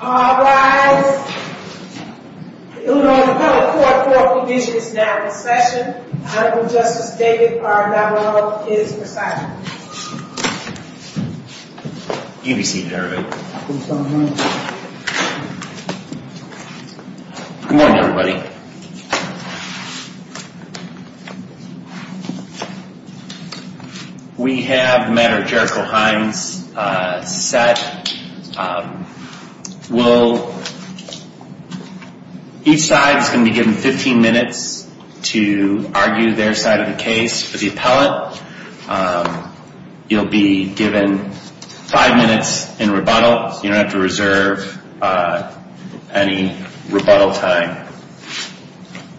All rise. The Illinois Department of Court Court Provision is now in session. Honorable Justice David R. Navarro is presiding. You be seated, everybody. Thank you, Your Honor. Good morning, everybody. We have the matter of Jericho Hines set. Each side is going to be given 15 minutes to argue their side of the case for the appellate. You'll be given five minutes in rebuttal. You don't have to reserve any rebuttal time.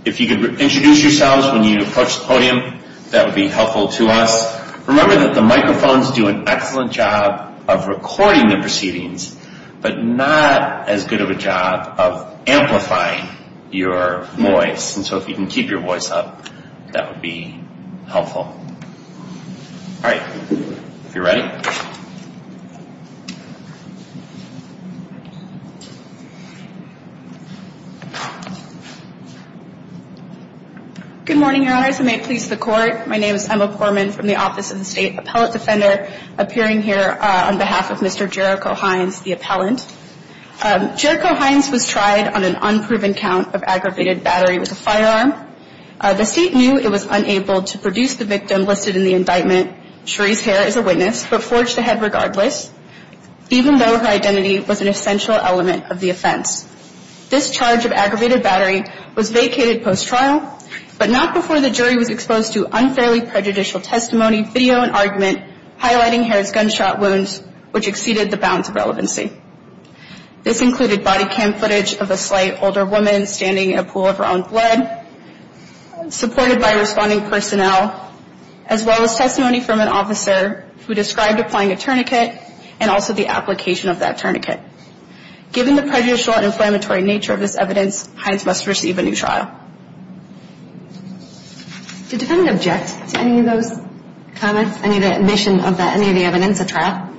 If you could introduce yourselves when you approach the podium, that would be helpful to us. Remember that the microphones do an excellent job of recording the proceedings, but not as good of a job of amplifying your voice. And so if you can keep your voice up, that would be helpful. All right, if you're ready. Good morning, Your Honors. And may it please the Court. My name is Emma Korman from the Office of the State Appellate Defender, appearing here on behalf of Mr. Jericho Hines, the appellant. Jericho Hines was tried on an unproven count of aggravated battery with a firearm. The state knew it was unable to produce the victim listed in the indictment. Cherie's hair is a witness, but forged ahead regardless, even though her identity was an essential element of the offense. This charge of aggravated battery was vacated post-trial, but not before the jury was exposed to unfairly prejudicial testimony, video, and argument highlighting her gunshot wounds, which exceeded the bounds of relevancy. This included body cam footage of a slight older woman standing in a pool of her own blood, supported by responding personnel, as well as testimony from an officer who described applying a tourniquet, and also the application of that tourniquet. Given the prejudicial and inflammatory nature of this evidence, Hines must receive a new trial. Did the defendant object to any of those comments, any of the admission of that, any of the evidence at trial?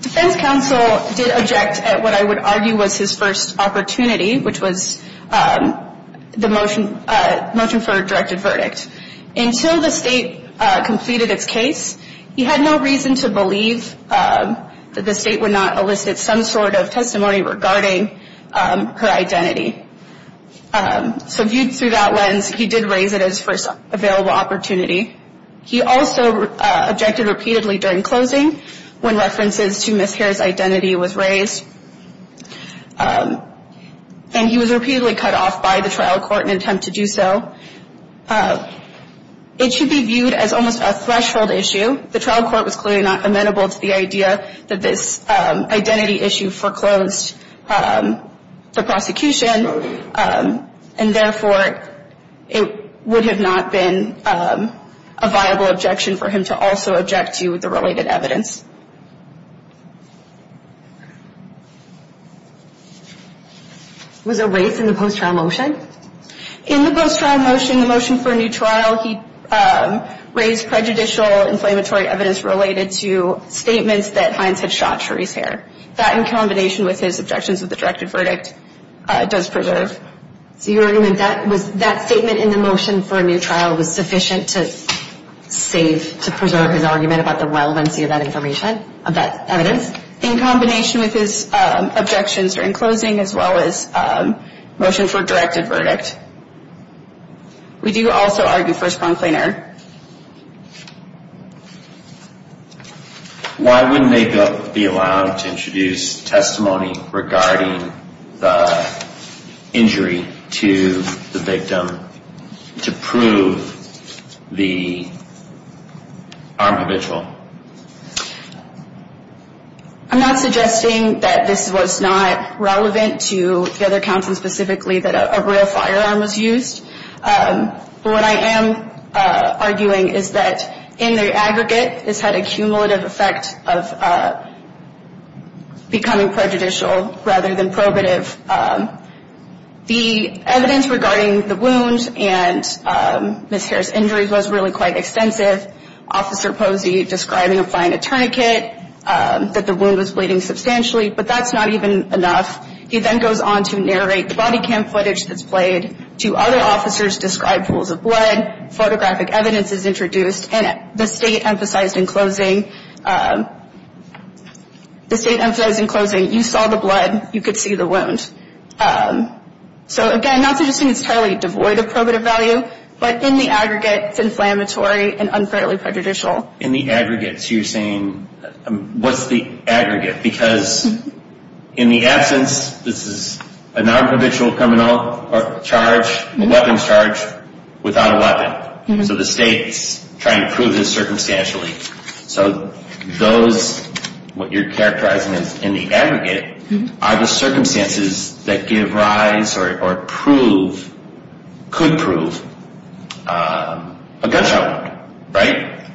Defense counsel did object at what I would argue was his first opportunity, which was the motion for a directed verdict. Until the state completed its case, he had no reason to believe that the state would not elicit some sort of testimony regarding her identity. So viewed through that lens, he did raise it as his first available opportunity. He also objected repeatedly during closing, when references to Ms. Hare's identity was raised. And he was repeatedly cut off by the trial court in an attempt to do so. It should be viewed as almost a threshold issue. The trial court was clearly not amenable to the idea that this identity issue foreclosed the prosecution, and therefore, it would have not been a viable objection for him to also object to the related evidence. Was there race in the post-trial motion? In the post-trial motion, the motion for a new trial, he raised prejudicial inflammatory evidence related to statements that Hines had shot Cherie's hair. That, in combination with his objections of the directed verdict, does preserve. So you're arguing that that statement in the motion for a new trial was sufficient to save, to preserve his argument about the relevancy of that information, of that evidence? In combination with his objections during closing, as well as motion for a directed verdict. We do also argue for a sponge cleaner. Why wouldn't they be allowed to introduce testimony regarding the injury to the victim to prove the armed habitual? I'm not suggesting that this was not relevant to the other counsel specifically, that a real firearm was used. But what I am suggesting is that this was not relevant to the other arguing is that in the aggregate, this had a cumulative effect of becoming prejudicial rather than probative. The evidence regarding the wounds and Ms. Harris' injuries was really quite extensive. Officer Posey describing applying a tourniquet, that the wound was bleeding substantially, but that's not even enough. He then goes on to narrate the body cam footage that's played to other officers, describe pools of blood, photographic evidence is introduced, and the state emphasized in closing, the state emphasized in closing, you saw the blood, you could see the wound. So again, not suggesting it's entirely devoid of probative value, but in the aggregate, it's inflammatory and unfairly prejudicial. In the aggregates, you're saying, what's the aggregate? Because in the absence, this is a non-habitual coming out or a charge, a weapons charge, without a weapon. So the state's trying to prove this circumstantially. So those, what you're characterizing as in the aggregate, are the circumstances that give rise or prove, could prove, a gunshot wound. Right?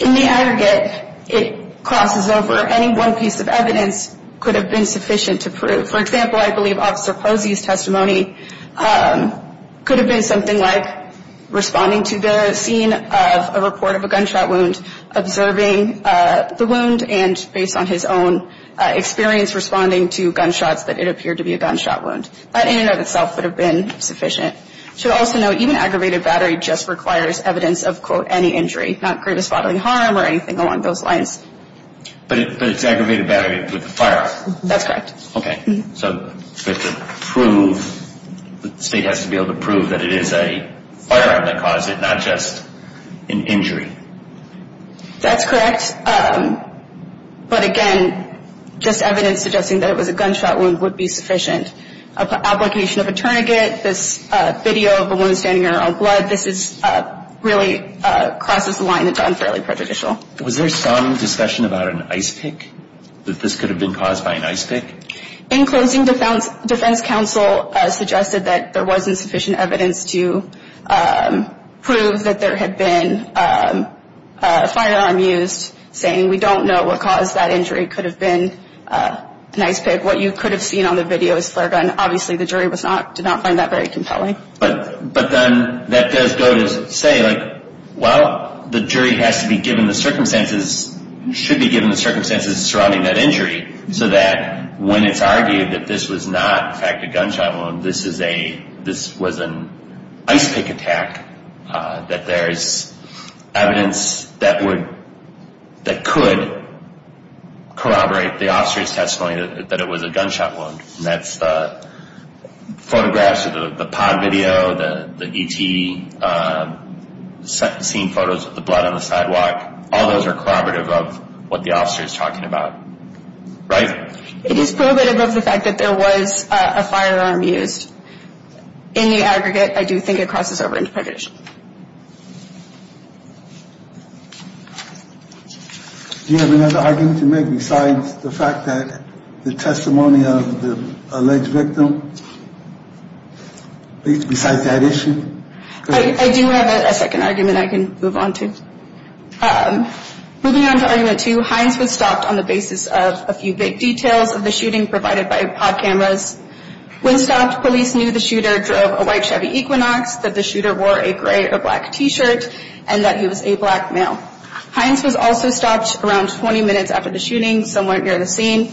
In the aggregate, it crosses over. Any one piece of evidence could have been sufficient to prove. For example, I believe Officer Posey's testimony could have been something like responding to the scene of a report of a gunshot wound, observing the wound, and based on his own experience responding to gunshots, that it appeared to be a gunshot wound. That in and of itself would have been sufficient. Should also note, even aggravated battery just requires evidence of, quote, any injury, not greatest bodily harm or anything along those lines. But it's aggravated battery with a firearm. That's correct. Okay, so the state has to be able to prove that it is a firearm that caused it, not just an injury. That's correct. But again, just evidence suggesting that it was a gunshot wound would be sufficient. An application of a tourniquet, this video of a woman standing around blood, this really crosses the line into unfairly prejudicial. Was there some discussion about an ice pick? That this could have been caused by an ice pick? In closing, defense counsel suggested that there wasn't sufficient evidence to prove that there had been a firearm used, saying we don't know what caused that injury, could have been an ice pick. What you could have seen on the video is flare gun. Obviously, the jury did not find that very compelling. But then that does go to say, well, the jury has to be given the circumstances, should be given the circumstances surrounding that injury. So that when it's argued that this was not, in fact, a gunshot wound, this was an ice pick attack, that there's evidence that could corroborate the officer's testimony that it was a gunshot wound. That's the photographs of the pod video, the E.T. scene photos of the blood on the sidewalk. All those are corroborative of what the officer is talking about, right? It is corroborative of the fact that there was a firearm used. In the aggregate, I do think it crosses over into prejudicial. Do you have another argument to make besides the fact that the testimony of the alleged victim? Besides that issue? I do have a second argument I can move on to. Moving on to argument two, Hines was stopped on the basis of a few big details of the shooting provided by pod cameras. When stopped, police knew the shooter drove a white Chevy Equinox, that the shooter wore a gray or black t-shirt, and that he was a black male. Hines was also stopped around 20 minutes after the shooting, somewhere near the scene.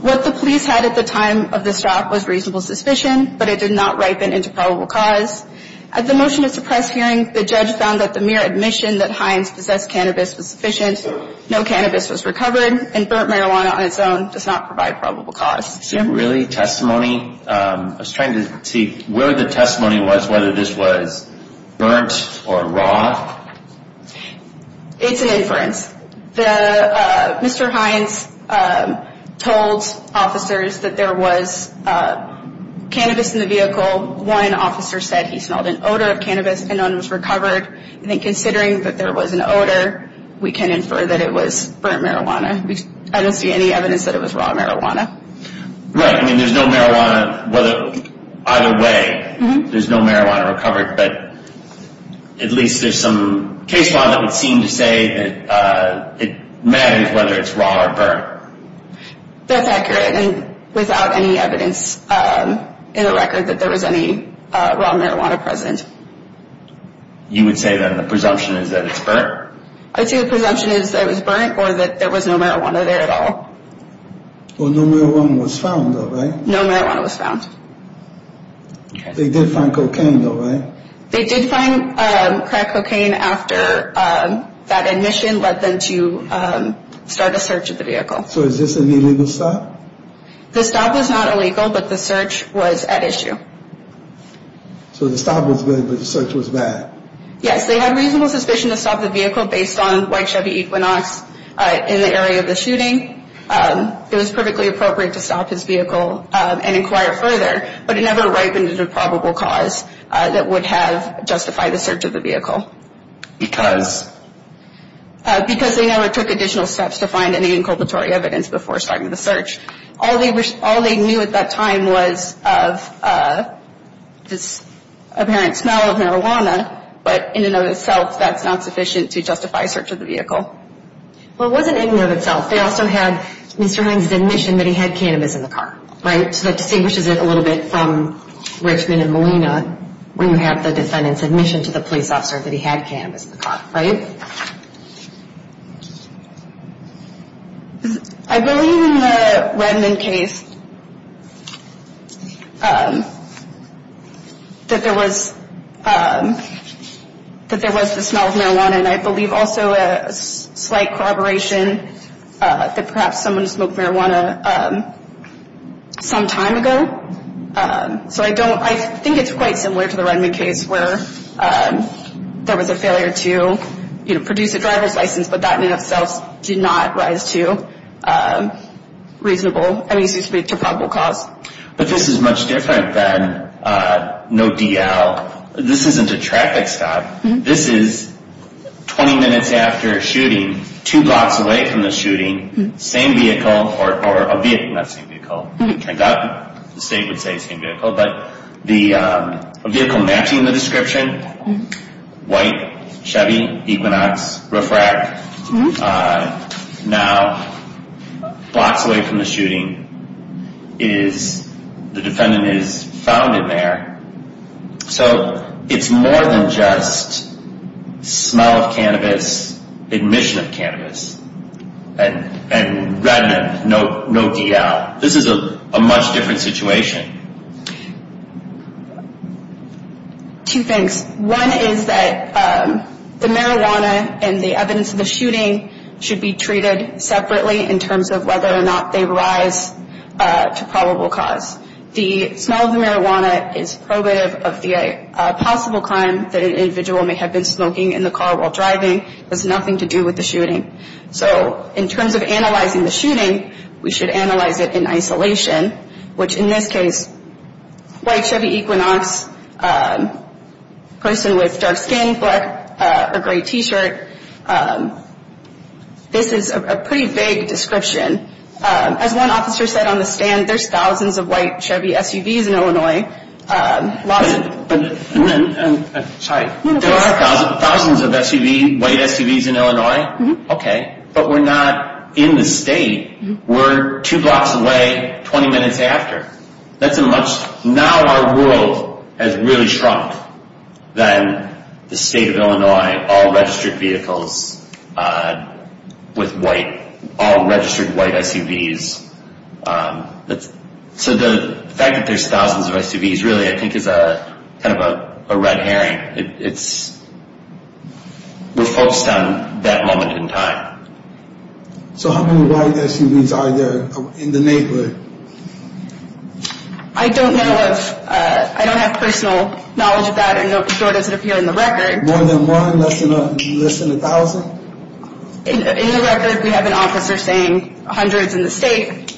What the police had at the time of the stop was reasonable suspicion, but it did not ripen into probable cause. At the motion to suppress hearing, the judge found that the mere admission that Hines possessed cannabis was sufficient. No cannabis was recovered, and burnt marijuana on its own does not provide probable cause. So really, testimony, I was trying to see where the testimony was, whether this was burnt or raw. It's an inference. Mr. Hines told officers that there was cannabis in the vehicle. One officer said he smelled an odor of cannabis, and none was recovered. I think considering that there was an odor, we can infer that it was burnt marijuana. I don't see any evidence that it was raw marijuana. Right, I mean, there's no marijuana, either way, there's no marijuana recovered, but at least there's some case law that would seem to say that it matters whether it's raw or burnt. That's accurate, and without any evidence in the record that there was any raw marijuana present. You would say, then, the presumption is that it's burnt? I'd say the presumption is that it was burnt, or that there was no marijuana there at all. Well, no marijuana was found, though, right? No marijuana was found. They did find cocaine, though, right? They did find crack cocaine after that admission led them to start a search of the vehicle. So is this an illegal stop? The stop was not illegal, but the search was at issue. So the stop was good, but the search was bad? Yes, they had reasonable suspicion to stop the vehicle based on white Chevy Equinox in the area of the shooting. It was perfectly appropriate to stop his vehicle and inquire further, but it never ripened a probable cause that would have justified the search of the vehicle. Because they never took additional steps to find any inculpatory evidence before starting the search. All they knew at that time was of this apparent smell of marijuana, but in and of itself, that's not sufficient to justify search of the vehicle. Well, it wasn't in and of itself. They also had Mr. Hines' admission that he had cannabis in the car, right? So that distinguishes it a little bit from Richmond and Molina where you have the defendant's admission to the police officer that he had cannabis in the car, right? I believe in the Redmond case that there was the smell of marijuana. And I believe also a slight corroboration that perhaps someone smoked marijuana some time ago. So I think it's quite similar to the Redmond case where there was a failure to produce a driver's license, but that in and of itself did not rise to reasonable, I mean, to probable cause. But this is much different than no DL. This isn't a traffic stop. This is 20 minutes after a shooting, two blocks away from the shooting, same vehicle, or a vehicle, not same vehicle. I thought the state would say same vehicle, but the vehicle matching the description, white, Chevy, Equinox, roof rack. Now, blocks away from the shooting, the defendant is found in there. So it's more than just smell of cannabis, admission of cannabis, and Redmond, no DL. This is a much different situation. Two things. One is that the marijuana and the evidence of the shooting should be treated separately in terms of whether or not they rise to probable cause. The smell of the marijuana is probative of the possible crime that an individual may have been smoking in the car while driving. It has nothing to do with the shooting. So in terms of analyzing the shooting, we should analyze it in isolation, which in this case, white Chevy Equinox, person with dark skin, black or gray t-shirt. This is a pretty vague description. As one officer said on the stand, there's thousands of white Chevy SUVs in Illinois. Lots of them, but... Sorry. There are thousands of SUVs, white SUVs in Illinois. Okay. But we're not in the state. We're two blocks away, 20 minutes after. That's a much... Now our world has really shrunk than the state of Illinois, all registered vehicles with white, all registered white SUVs. So the fact that there's thousands of SUVs really I think is kind of a red herring. It's... We're focused on that moment in time. So how many white SUVs are there in the neighborhood? I don't know of... I don't have personal knowledge of that, and nor does it appear in the record. More than one? Less than a thousand? In the record, we have an officer saying hundreds in the state.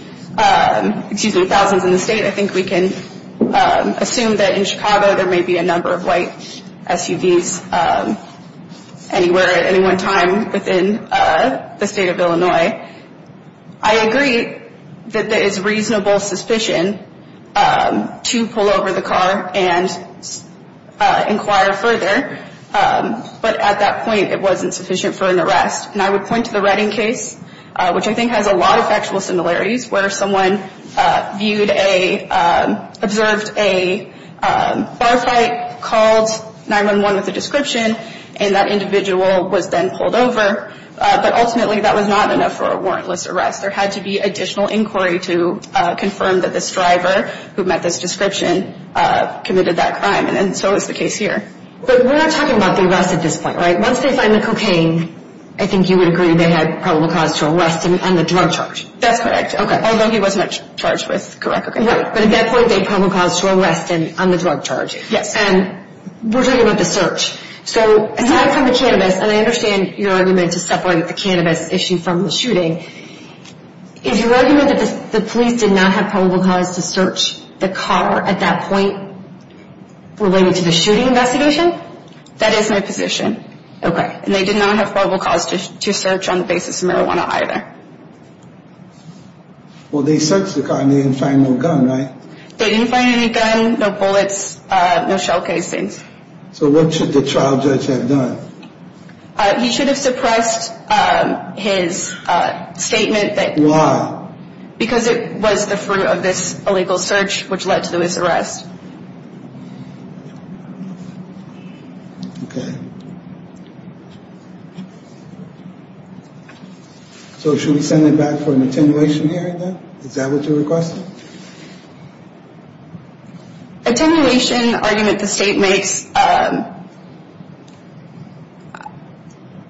Excuse me, thousands in the state. I think we can assume that in Chicago there may be a number of white SUVs anywhere at any one time within the state of Illinois. I agree that there is reasonable suspicion to pull over the car and inquire further. But at that point, it wasn't sufficient for an arrest. And I would point to the Redding case, which I think has a lot of factual similarities, where someone observed a bar fight called 911 with a description, and that individual was then pulled over. But ultimately, that was not enough for a warrantless arrest. There had to be additional inquiry to confirm that this driver who met this description committed that crime. And so is the case here. But we're not talking about the arrest at this point, right? Once they find the cocaine, I think you would agree they had probable cause to arrest him on the drug charge. That's correct. Although he wasn't charged with correct cocaine. Right. But at that point, they had probable cause to arrest him on the drug charge. Yes. And we're talking about the search. So aside from the cannabis, and I understand your argument to separate the cannabis issue from the shooting, is your argument that the police did not have probable cause to search the car at that point related to the shooting investigation? That is my position. Okay. And they did not have probable cause to search on the basis of marijuana either. Well, they searched the car and they didn't find no gun, right? They didn't find any gun, no bullets, no shell casings. So what should the trial judge have done? He should have suppressed his statement. Why? Because it was the fruit of this illegal search which led to this arrest. Okay. So should we send it back for an attenuation hearing then? Is that what you're requesting? Attenuation argument the state makes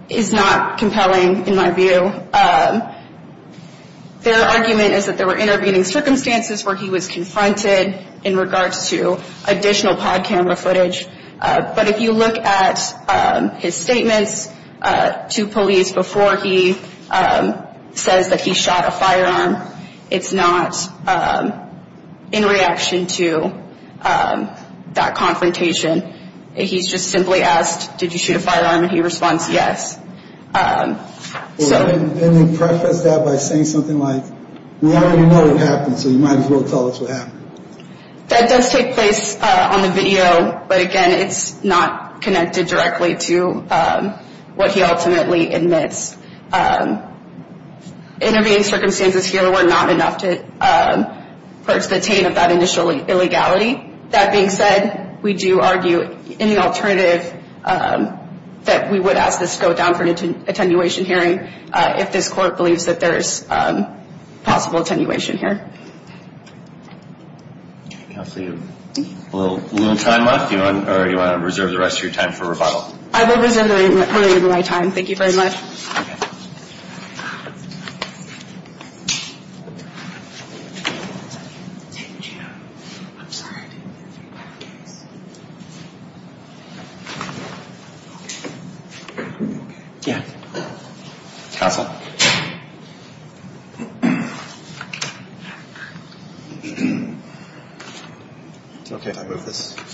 is not compelling in my view. Their argument is that there were intervening circumstances where he was confronted in regards to additional pod camera footage. But if you look at his statements to police before he says that he shot a firearm, it's not in reaction to that confrontation. He's just simply asked, did you shoot a firearm? And he responds, yes. Then they preface that by saying something like, we already know what happened, so you might as well tell us what happened. That does take place on the video, but again, it's not connected directly to what he ultimately admits. Intervening circumstances here were not enough to purge the taint of that initial illegality. That being said, we do argue in the alternative that we would ask this to go down for an attenuation hearing if this court believes that there's possible attenuation here. A little time left? Or do you want to reserve the rest of your time for rebuttal? I will reserve the rest of my time. Thank you very much. Thank you.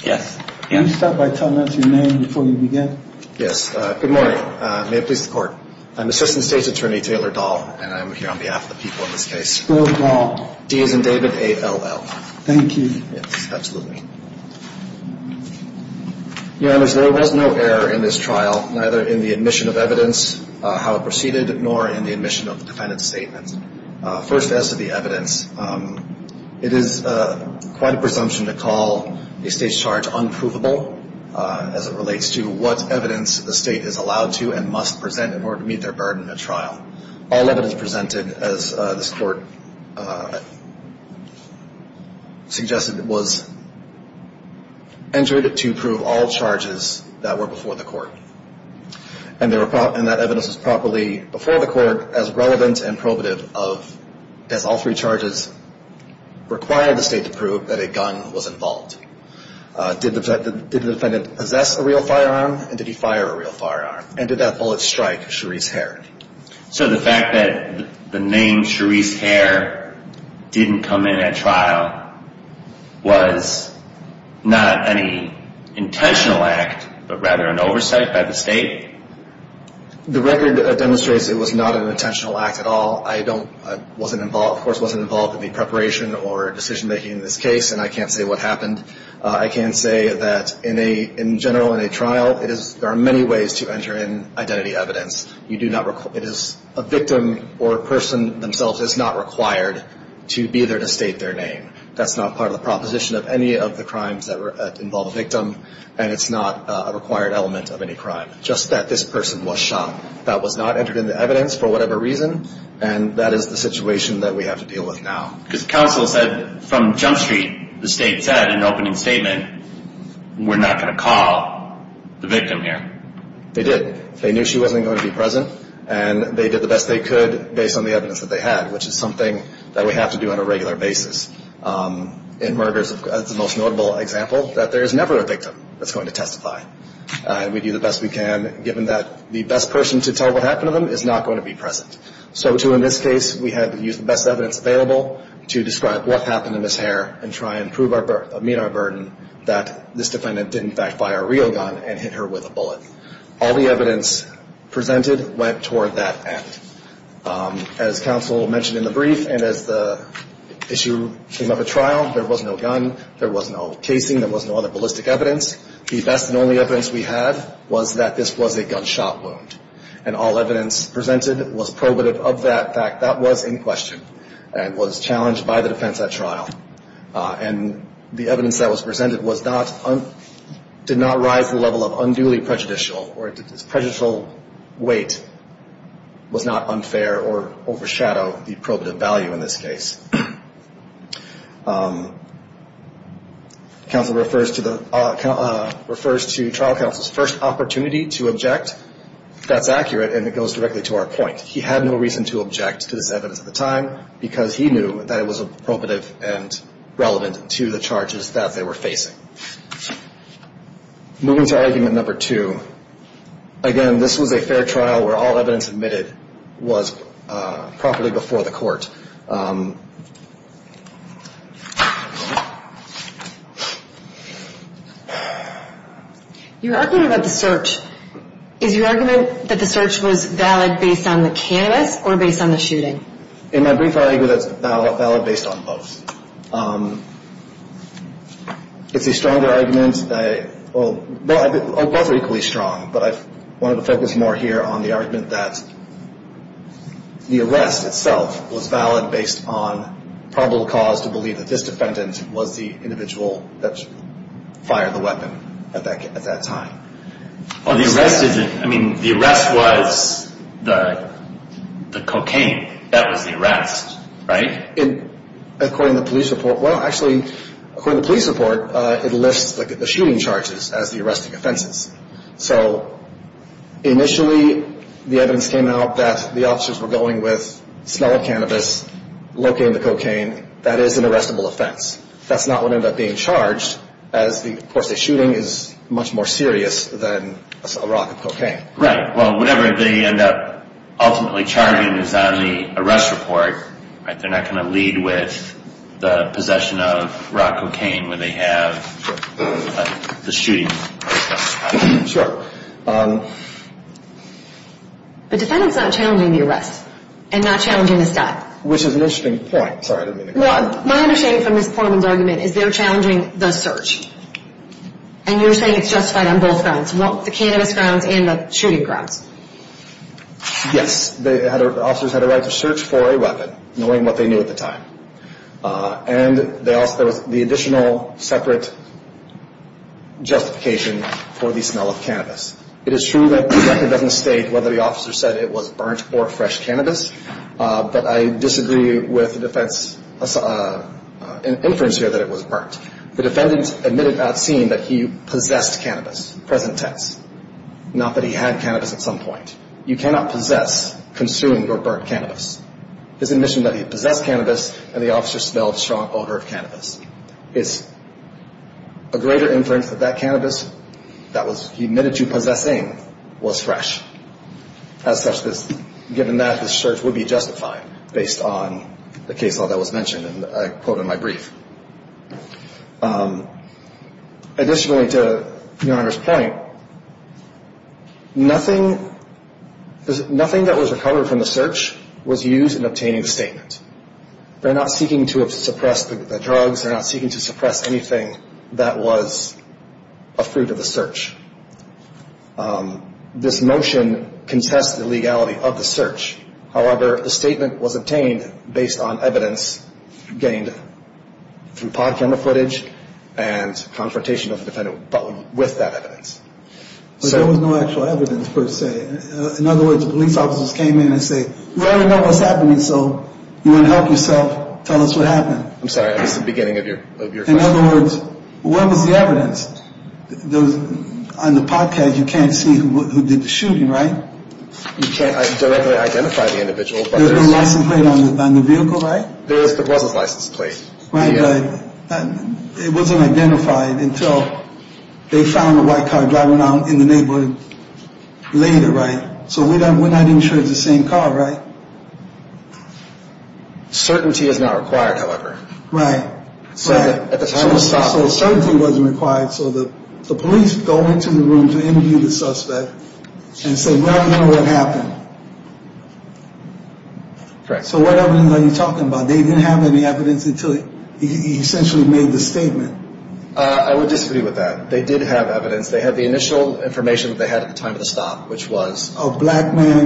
Yes. Can you start by telling us your name before you begin? Yes. Good morning. May it please the Court. I'm Assistant State's Attorney Taylor Dahl, and I'm here on behalf of the people in this case. Dahl. D as in David, A-L-L. Thank you. Yes, absolutely. Your Honors, there was no error in this trial, neither in the admission of evidence, how it proceeded, nor in the admission of the defendant's statement. First, as to the evidence, it is quite a presumption to call a State's charge unprovable as it relates to what evidence the State is allowed to and must present in order to meet their burden in a trial. All evidence presented, as this Court suggested, was entered to prove all charges that were before the Court. And that evidence was properly before the Court as relevant and probative as all three charges required the State to prove that a gun was involved. Did the defendant possess a real firearm? And did he fire a real firearm? And did that bullet strike Cherise Hare? So the fact that the name Cherise Hare didn't come in at trial was not any intentional act, but rather an oversight by the State? The record demonstrates it was not an intentional act at all. I don't, I wasn't involved, of course, wasn't involved in the preparation or decision-making of this case, and I can't say what happened. I can say that in a, in general, in a trial, it is, there are many ways to enter in identity evidence. You do not, it is, a victim or a person themselves is not required to be there to state their name. That's not part of the proposition of any of the crimes that involve a victim, and it's not a required element of any crime. Just that this person was shot. That was not entered in the evidence for whatever reason, and that is the situation that we have to deal with now. Because counsel said, from Jump Street, the State said in an opening statement, we're not going to call the victim here. They did. They knew she wasn't going to be present, and they did the best they could based on the evidence that they had, which is something that we have to do on a regular basis. In murders, the most notable example, that there is never a victim that's going to testify. We do the best we can, given that the best person to tell what happened to them is not going to be present. So, too, in this case, we had to use the best evidence available to describe what happened to Ms. Hare and try and prove, meet our burden that this defendant didn't backfire a real gun and hit her with a bullet. All the evidence presented went toward that end. As counsel mentioned in the brief, and as the issue came up at trial, there was no gun, there was no casing, there was no other ballistic evidence. The best and only evidence we had was that this was a gunshot wound, and all evidence presented was probative of that fact. That was in question and was challenged by the defense at trial. And the evidence that was presented did not rise to the level of unduly prejudicial, or its prejudicial weight was not unfair or overshadowed the probative value in this case. Counsel refers to trial counsel's first opportunity to object. That's accurate, and it goes directly to our point. He had no reason to object to this evidence at the time, because he knew that it was probative and relevant to the charges that they were facing. Moving to argument number two. Again, this was a fair trial where all evidence admitted was properly before the court. You're arguing about the search. Is your argument that the search was valid based on the canvass or based on the shooting? In my brief, I argue that it's valid based on both. It's a stronger argument. Well, both are equally strong, but I wanted to focus more here on the argument that the arrest itself was valid. It's valid based on probable cause to believe that this defendant was the individual that fired the weapon at that time. I mean, the arrest was the cocaine. That was the arrest, right? According to police report, well, actually, according to police report, it lists the shooting charges as the arresting offenses. So, initially, the evidence came out that the officers were going with smelling cannabis, looking at the cocaine. That is an arrestable offense. That's not what ended up being charged, as, of course, the shooting is much more serious than a rock of cocaine. Right. Well, whatever they end up ultimately charging is on the arrest report. Right. They're not going to lead with the possession of rock cocaine where they have the shooting. Sure. The defendant's not challenging the arrest and not challenging the stop. Which is an interesting point. Sorry, I didn't mean to interrupt. My understanding from Ms. Portman's argument is they're challenging the search. And you're saying it's justified on both grounds, the cannabis grounds and the shooting grounds. Yes. The officers had a right to search for a weapon, knowing what they knew at the time. And there was the additional separate justification for the smell of cannabis. It is true that the record doesn't state whether the officer said it was burnt or fresh cannabis, but I disagree with the defense inference here that it was burnt. The defendant admitted at scene that he possessed cannabis, present tense, not that he had cannabis at some point. You cannot possess, consume, or burn cannabis. His admission that he possessed cannabis and the officer smelled a strong odor of cannabis. It's a greater inference that that cannabis that he admitted to possessing was fresh. As such, given that, the search would be justified based on the case law that was mentioned, and I quote in my brief. Additionally, to Your Honor's point, nothing that was recovered from the search was used in obtaining the statement. They're not seeking to suppress the drugs. They're not seeking to suppress anything that was a fruit of the search. This motion contests the legality of the search. However, the statement was obtained based on evidence gained through pod camera footage and confrontation of the defendant with that evidence. But there was no actual evidence per se. In other words, the police officers came in and say, we already know what's happening, so you want to help yourself, tell us what happened. I'm sorry, I missed the beginning of your question. In other words, what was the evidence? On the podcast, you can't see who did the shooting, right? You can't directly identify the individual. There's a license plate on the vehicle, right? There was a license plate. Right, but it wasn't identified until they found a white car driving around in the neighborhood later, right? So we're not even sure it's the same car, right? Certainty is not required, however. Right. At the time of the shooting. So certainty wasn't required, so the police go into the room to interview the suspect and say, we already know what happened. Correct. So what evidence are you talking about? They didn't have any evidence until he essentially made the statement. I would disagree with that. They did have evidence. They had the initial information that they had at the time of the stop, which was? A black man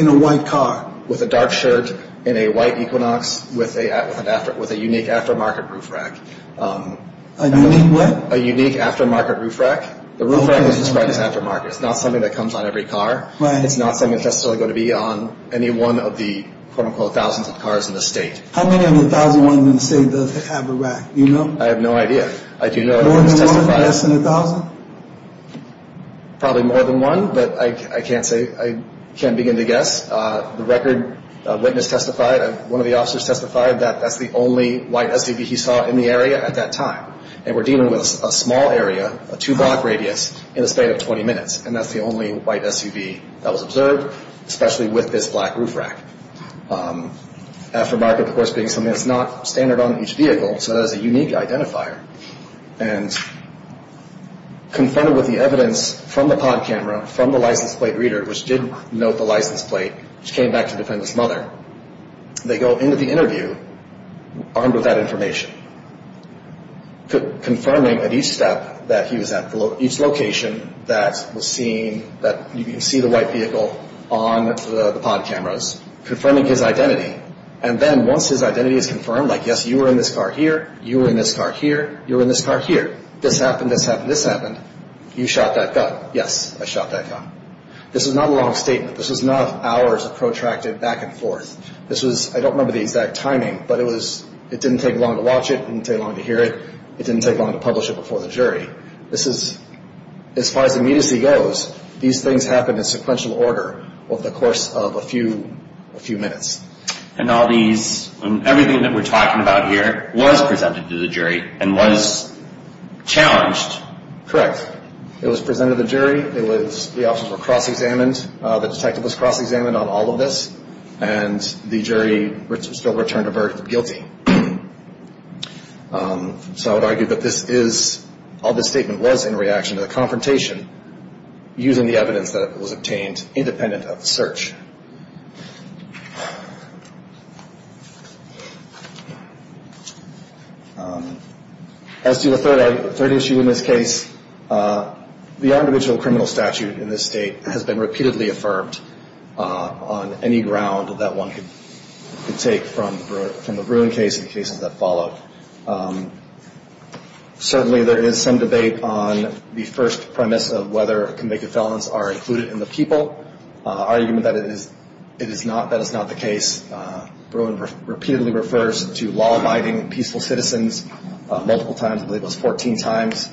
in a white car. With a dark shirt and a white Equinox with a unique aftermarket roof rack. A unique what? A unique aftermarket roof rack. The roof rack is described as aftermarket. It's not something that comes on every car. Right. It's not something that's necessarily going to be on any one of the quote unquote thousands of cars in the state. How many of the thousands of cars in the state does have a rack? Do you know? I have no idea. More than one, less than a thousand? Probably more than one, but I can't begin to guess. The record witness testified, one of the officers testified, that that's the only white SUV he saw in the area at that time. And we're dealing with a small area, a two block radius, in the span of 20 minutes. And that's the only white SUV that was observed, especially with this black roof rack. Aftermarket, of course, being something that's not standard on each vehicle, so it has a unique identifier. And confronted with the evidence from the pod camera, from the license plate reader, which did note the license plate, which came back to the defendant's mother, they go into the interview armed with that information, confirming at each step that he was at, each location that was seen, that you can see the white vehicle on the pod cameras, confirming his identity. And then once his identity is confirmed, like, yes, you were in this car here, you were in this car here, you were in this car here, this happened, this happened, this happened, you shot that gun. This is not a long statement. This is not hours of protracted back and forth. This was, I don't remember the exact timing, but it was, it didn't take long to watch it, it didn't take long to hear it, it didn't take long to publish it before the jury. This is, as far as immediacy goes, these things happened in sequential order over the course of a few minutes. And all these, everything that we're talking about here was presented to the jury and was challenged? Correct. It was presented to the jury, it was, the officers were cross-examined, the detective was cross-examined on all of this, and the jury still returned a verdict of guilty. So I would argue that this is, all this statement was in reaction to the confrontation using the evidence that was obtained independent of the search. As to the third issue in this case, the individual criminal statute in this state has been repeatedly affirmed on any ground that one could take from the Bruin case and the cases that followed. Certainly there is some debate on the first premise of whether convicted felons are included in the people, argument that it is not, that it's not the case. Bruin repeatedly refers to law-abiding peaceful citizens multiple times, I believe it was 14 times.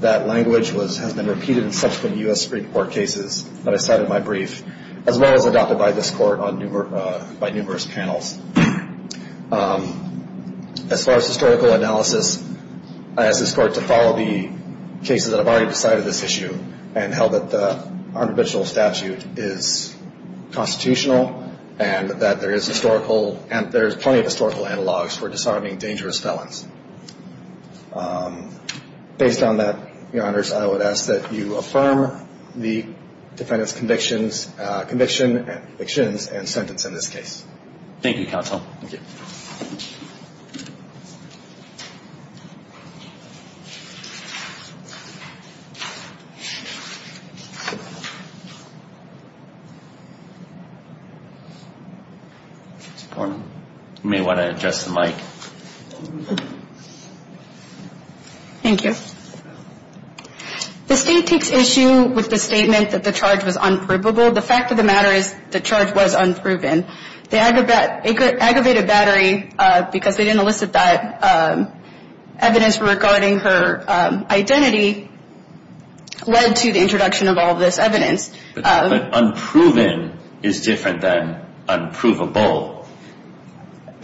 That language has been repeated in subsequent U.S. Supreme Court cases that I cited in my brief, as well as adopted by this Court by numerous panels. As far as historical analysis, I ask this Court to follow the cases that have already decided this issue and held that the individual statute is constitutional and that there is historical, and there's plenty of historical analogs for deciding dangerous felons. Based on that, Your Honors, I would ask that you affirm the defendant's convictions, conviction and convictions and sentence in this case. Thank you, Counsel. You may want to adjust the mic. Thank you. The State takes issue with the statement that the charge was unprovable. Well, the fact of the matter is the charge was unproven. They aggravated battery because they didn't elicit that evidence regarding her identity, led to the introduction of all this evidence. But unproven is different than unprovable.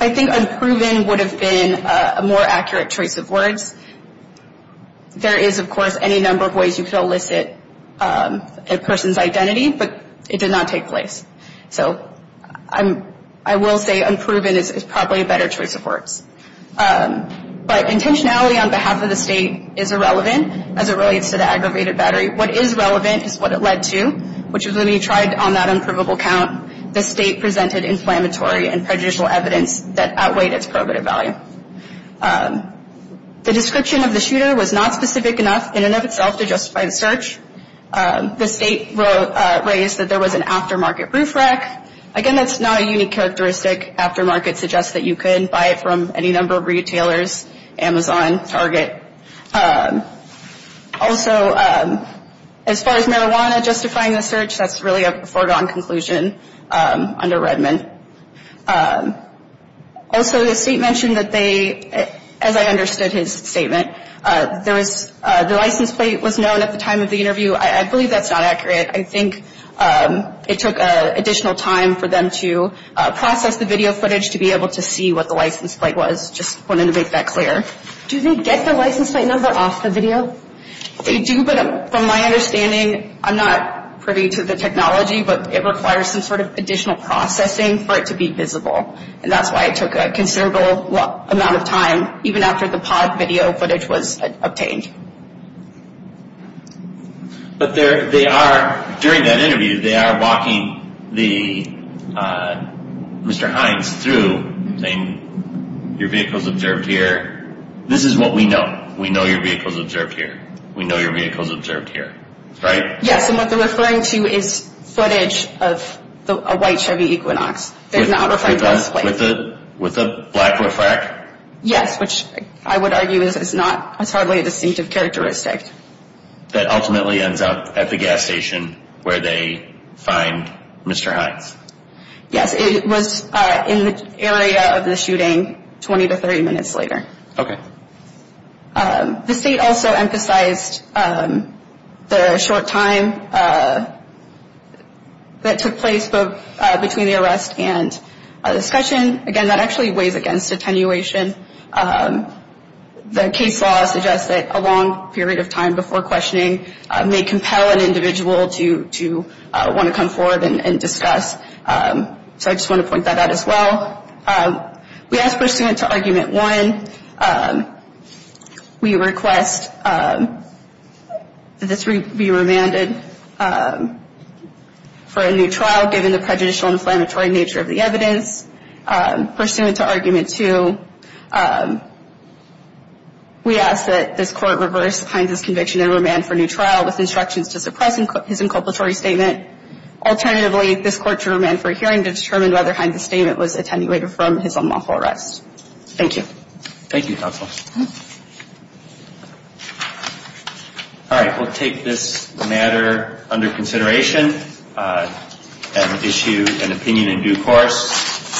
I think unproven would have been a more accurate choice of words. There is, of course, any number of ways you could elicit a person's identity, but it did not take place. So I will say unproven is probably a better choice of words. But intentionality on behalf of the State is irrelevant as it relates to the aggravated battery. What is relevant is what it led to, which is when we tried on that unprovable count, the State presented inflammatory and prejudicial evidence that outweighed its probative value. The description of the shooter was not specific enough in and of itself to justify the search. The State raised that there was an aftermarket roof rack. Again, that's not a unique characteristic. Aftermarket suggests that you could buy it from any number of retailers, Amazon, Target. Also, as far as marijuana justifying the search, that's really a foregone conclusion under Redmond. Also, the State mentioned that they, as I understood his statement, the license plate was known at the time of the interview. I believe that's not accurate. I think it took additional time for them to process the video footage to be able to see what the license plate was. Just wanted to make that clear. Do they get the license plate number off the video? They do, but from my understanding, I'm not privy to the technology, but it requires some sort of additional processing for it to be visible. And that's why it took a considerable amount of time, even after the pod video footage was obtained. But they are, during that interview, they are walking Mr. Hines through, saying, your vehicle's observed here. This is what we know. We know your vehicle's observed here. We know your vehicle's observed here. Right? Yes, and what they're referring to is footage of a white Chevy Equinox. They're not referring to the license plate. With the black roof rack? Yes, which I would argue is not, it's hardly a distinctive characteristic. That ultimately ends up at the gas station where they find Mr. Hines. Yes, it was in the area of the shooting 20 to 30 minutes later. Okay. The state also emphasized the short time that took place between the arrest and the discussion. Again, that actually weighs against attenuation. The case law suggests that a long period of time before questioning may compel an individual to want to come forward and discuss. So I just want to point that out as well. We ask pursuant to Argument 1, we request that this be remanded for a new trial given the prejudicial inflammatory nature of the evidence. Pursuant to Argument 2, we ask that this court reverse Hines' conviction and remand for a new trial with instructions to suppress his inculpatory statement. Alternatively, this court should remand for a hearing to determine whether Hines' statement was attenuated from his unlawful arrest. Thank you. Thank you, Counsel. All right. We'll take this matter under consideration and issue an opinion in due course.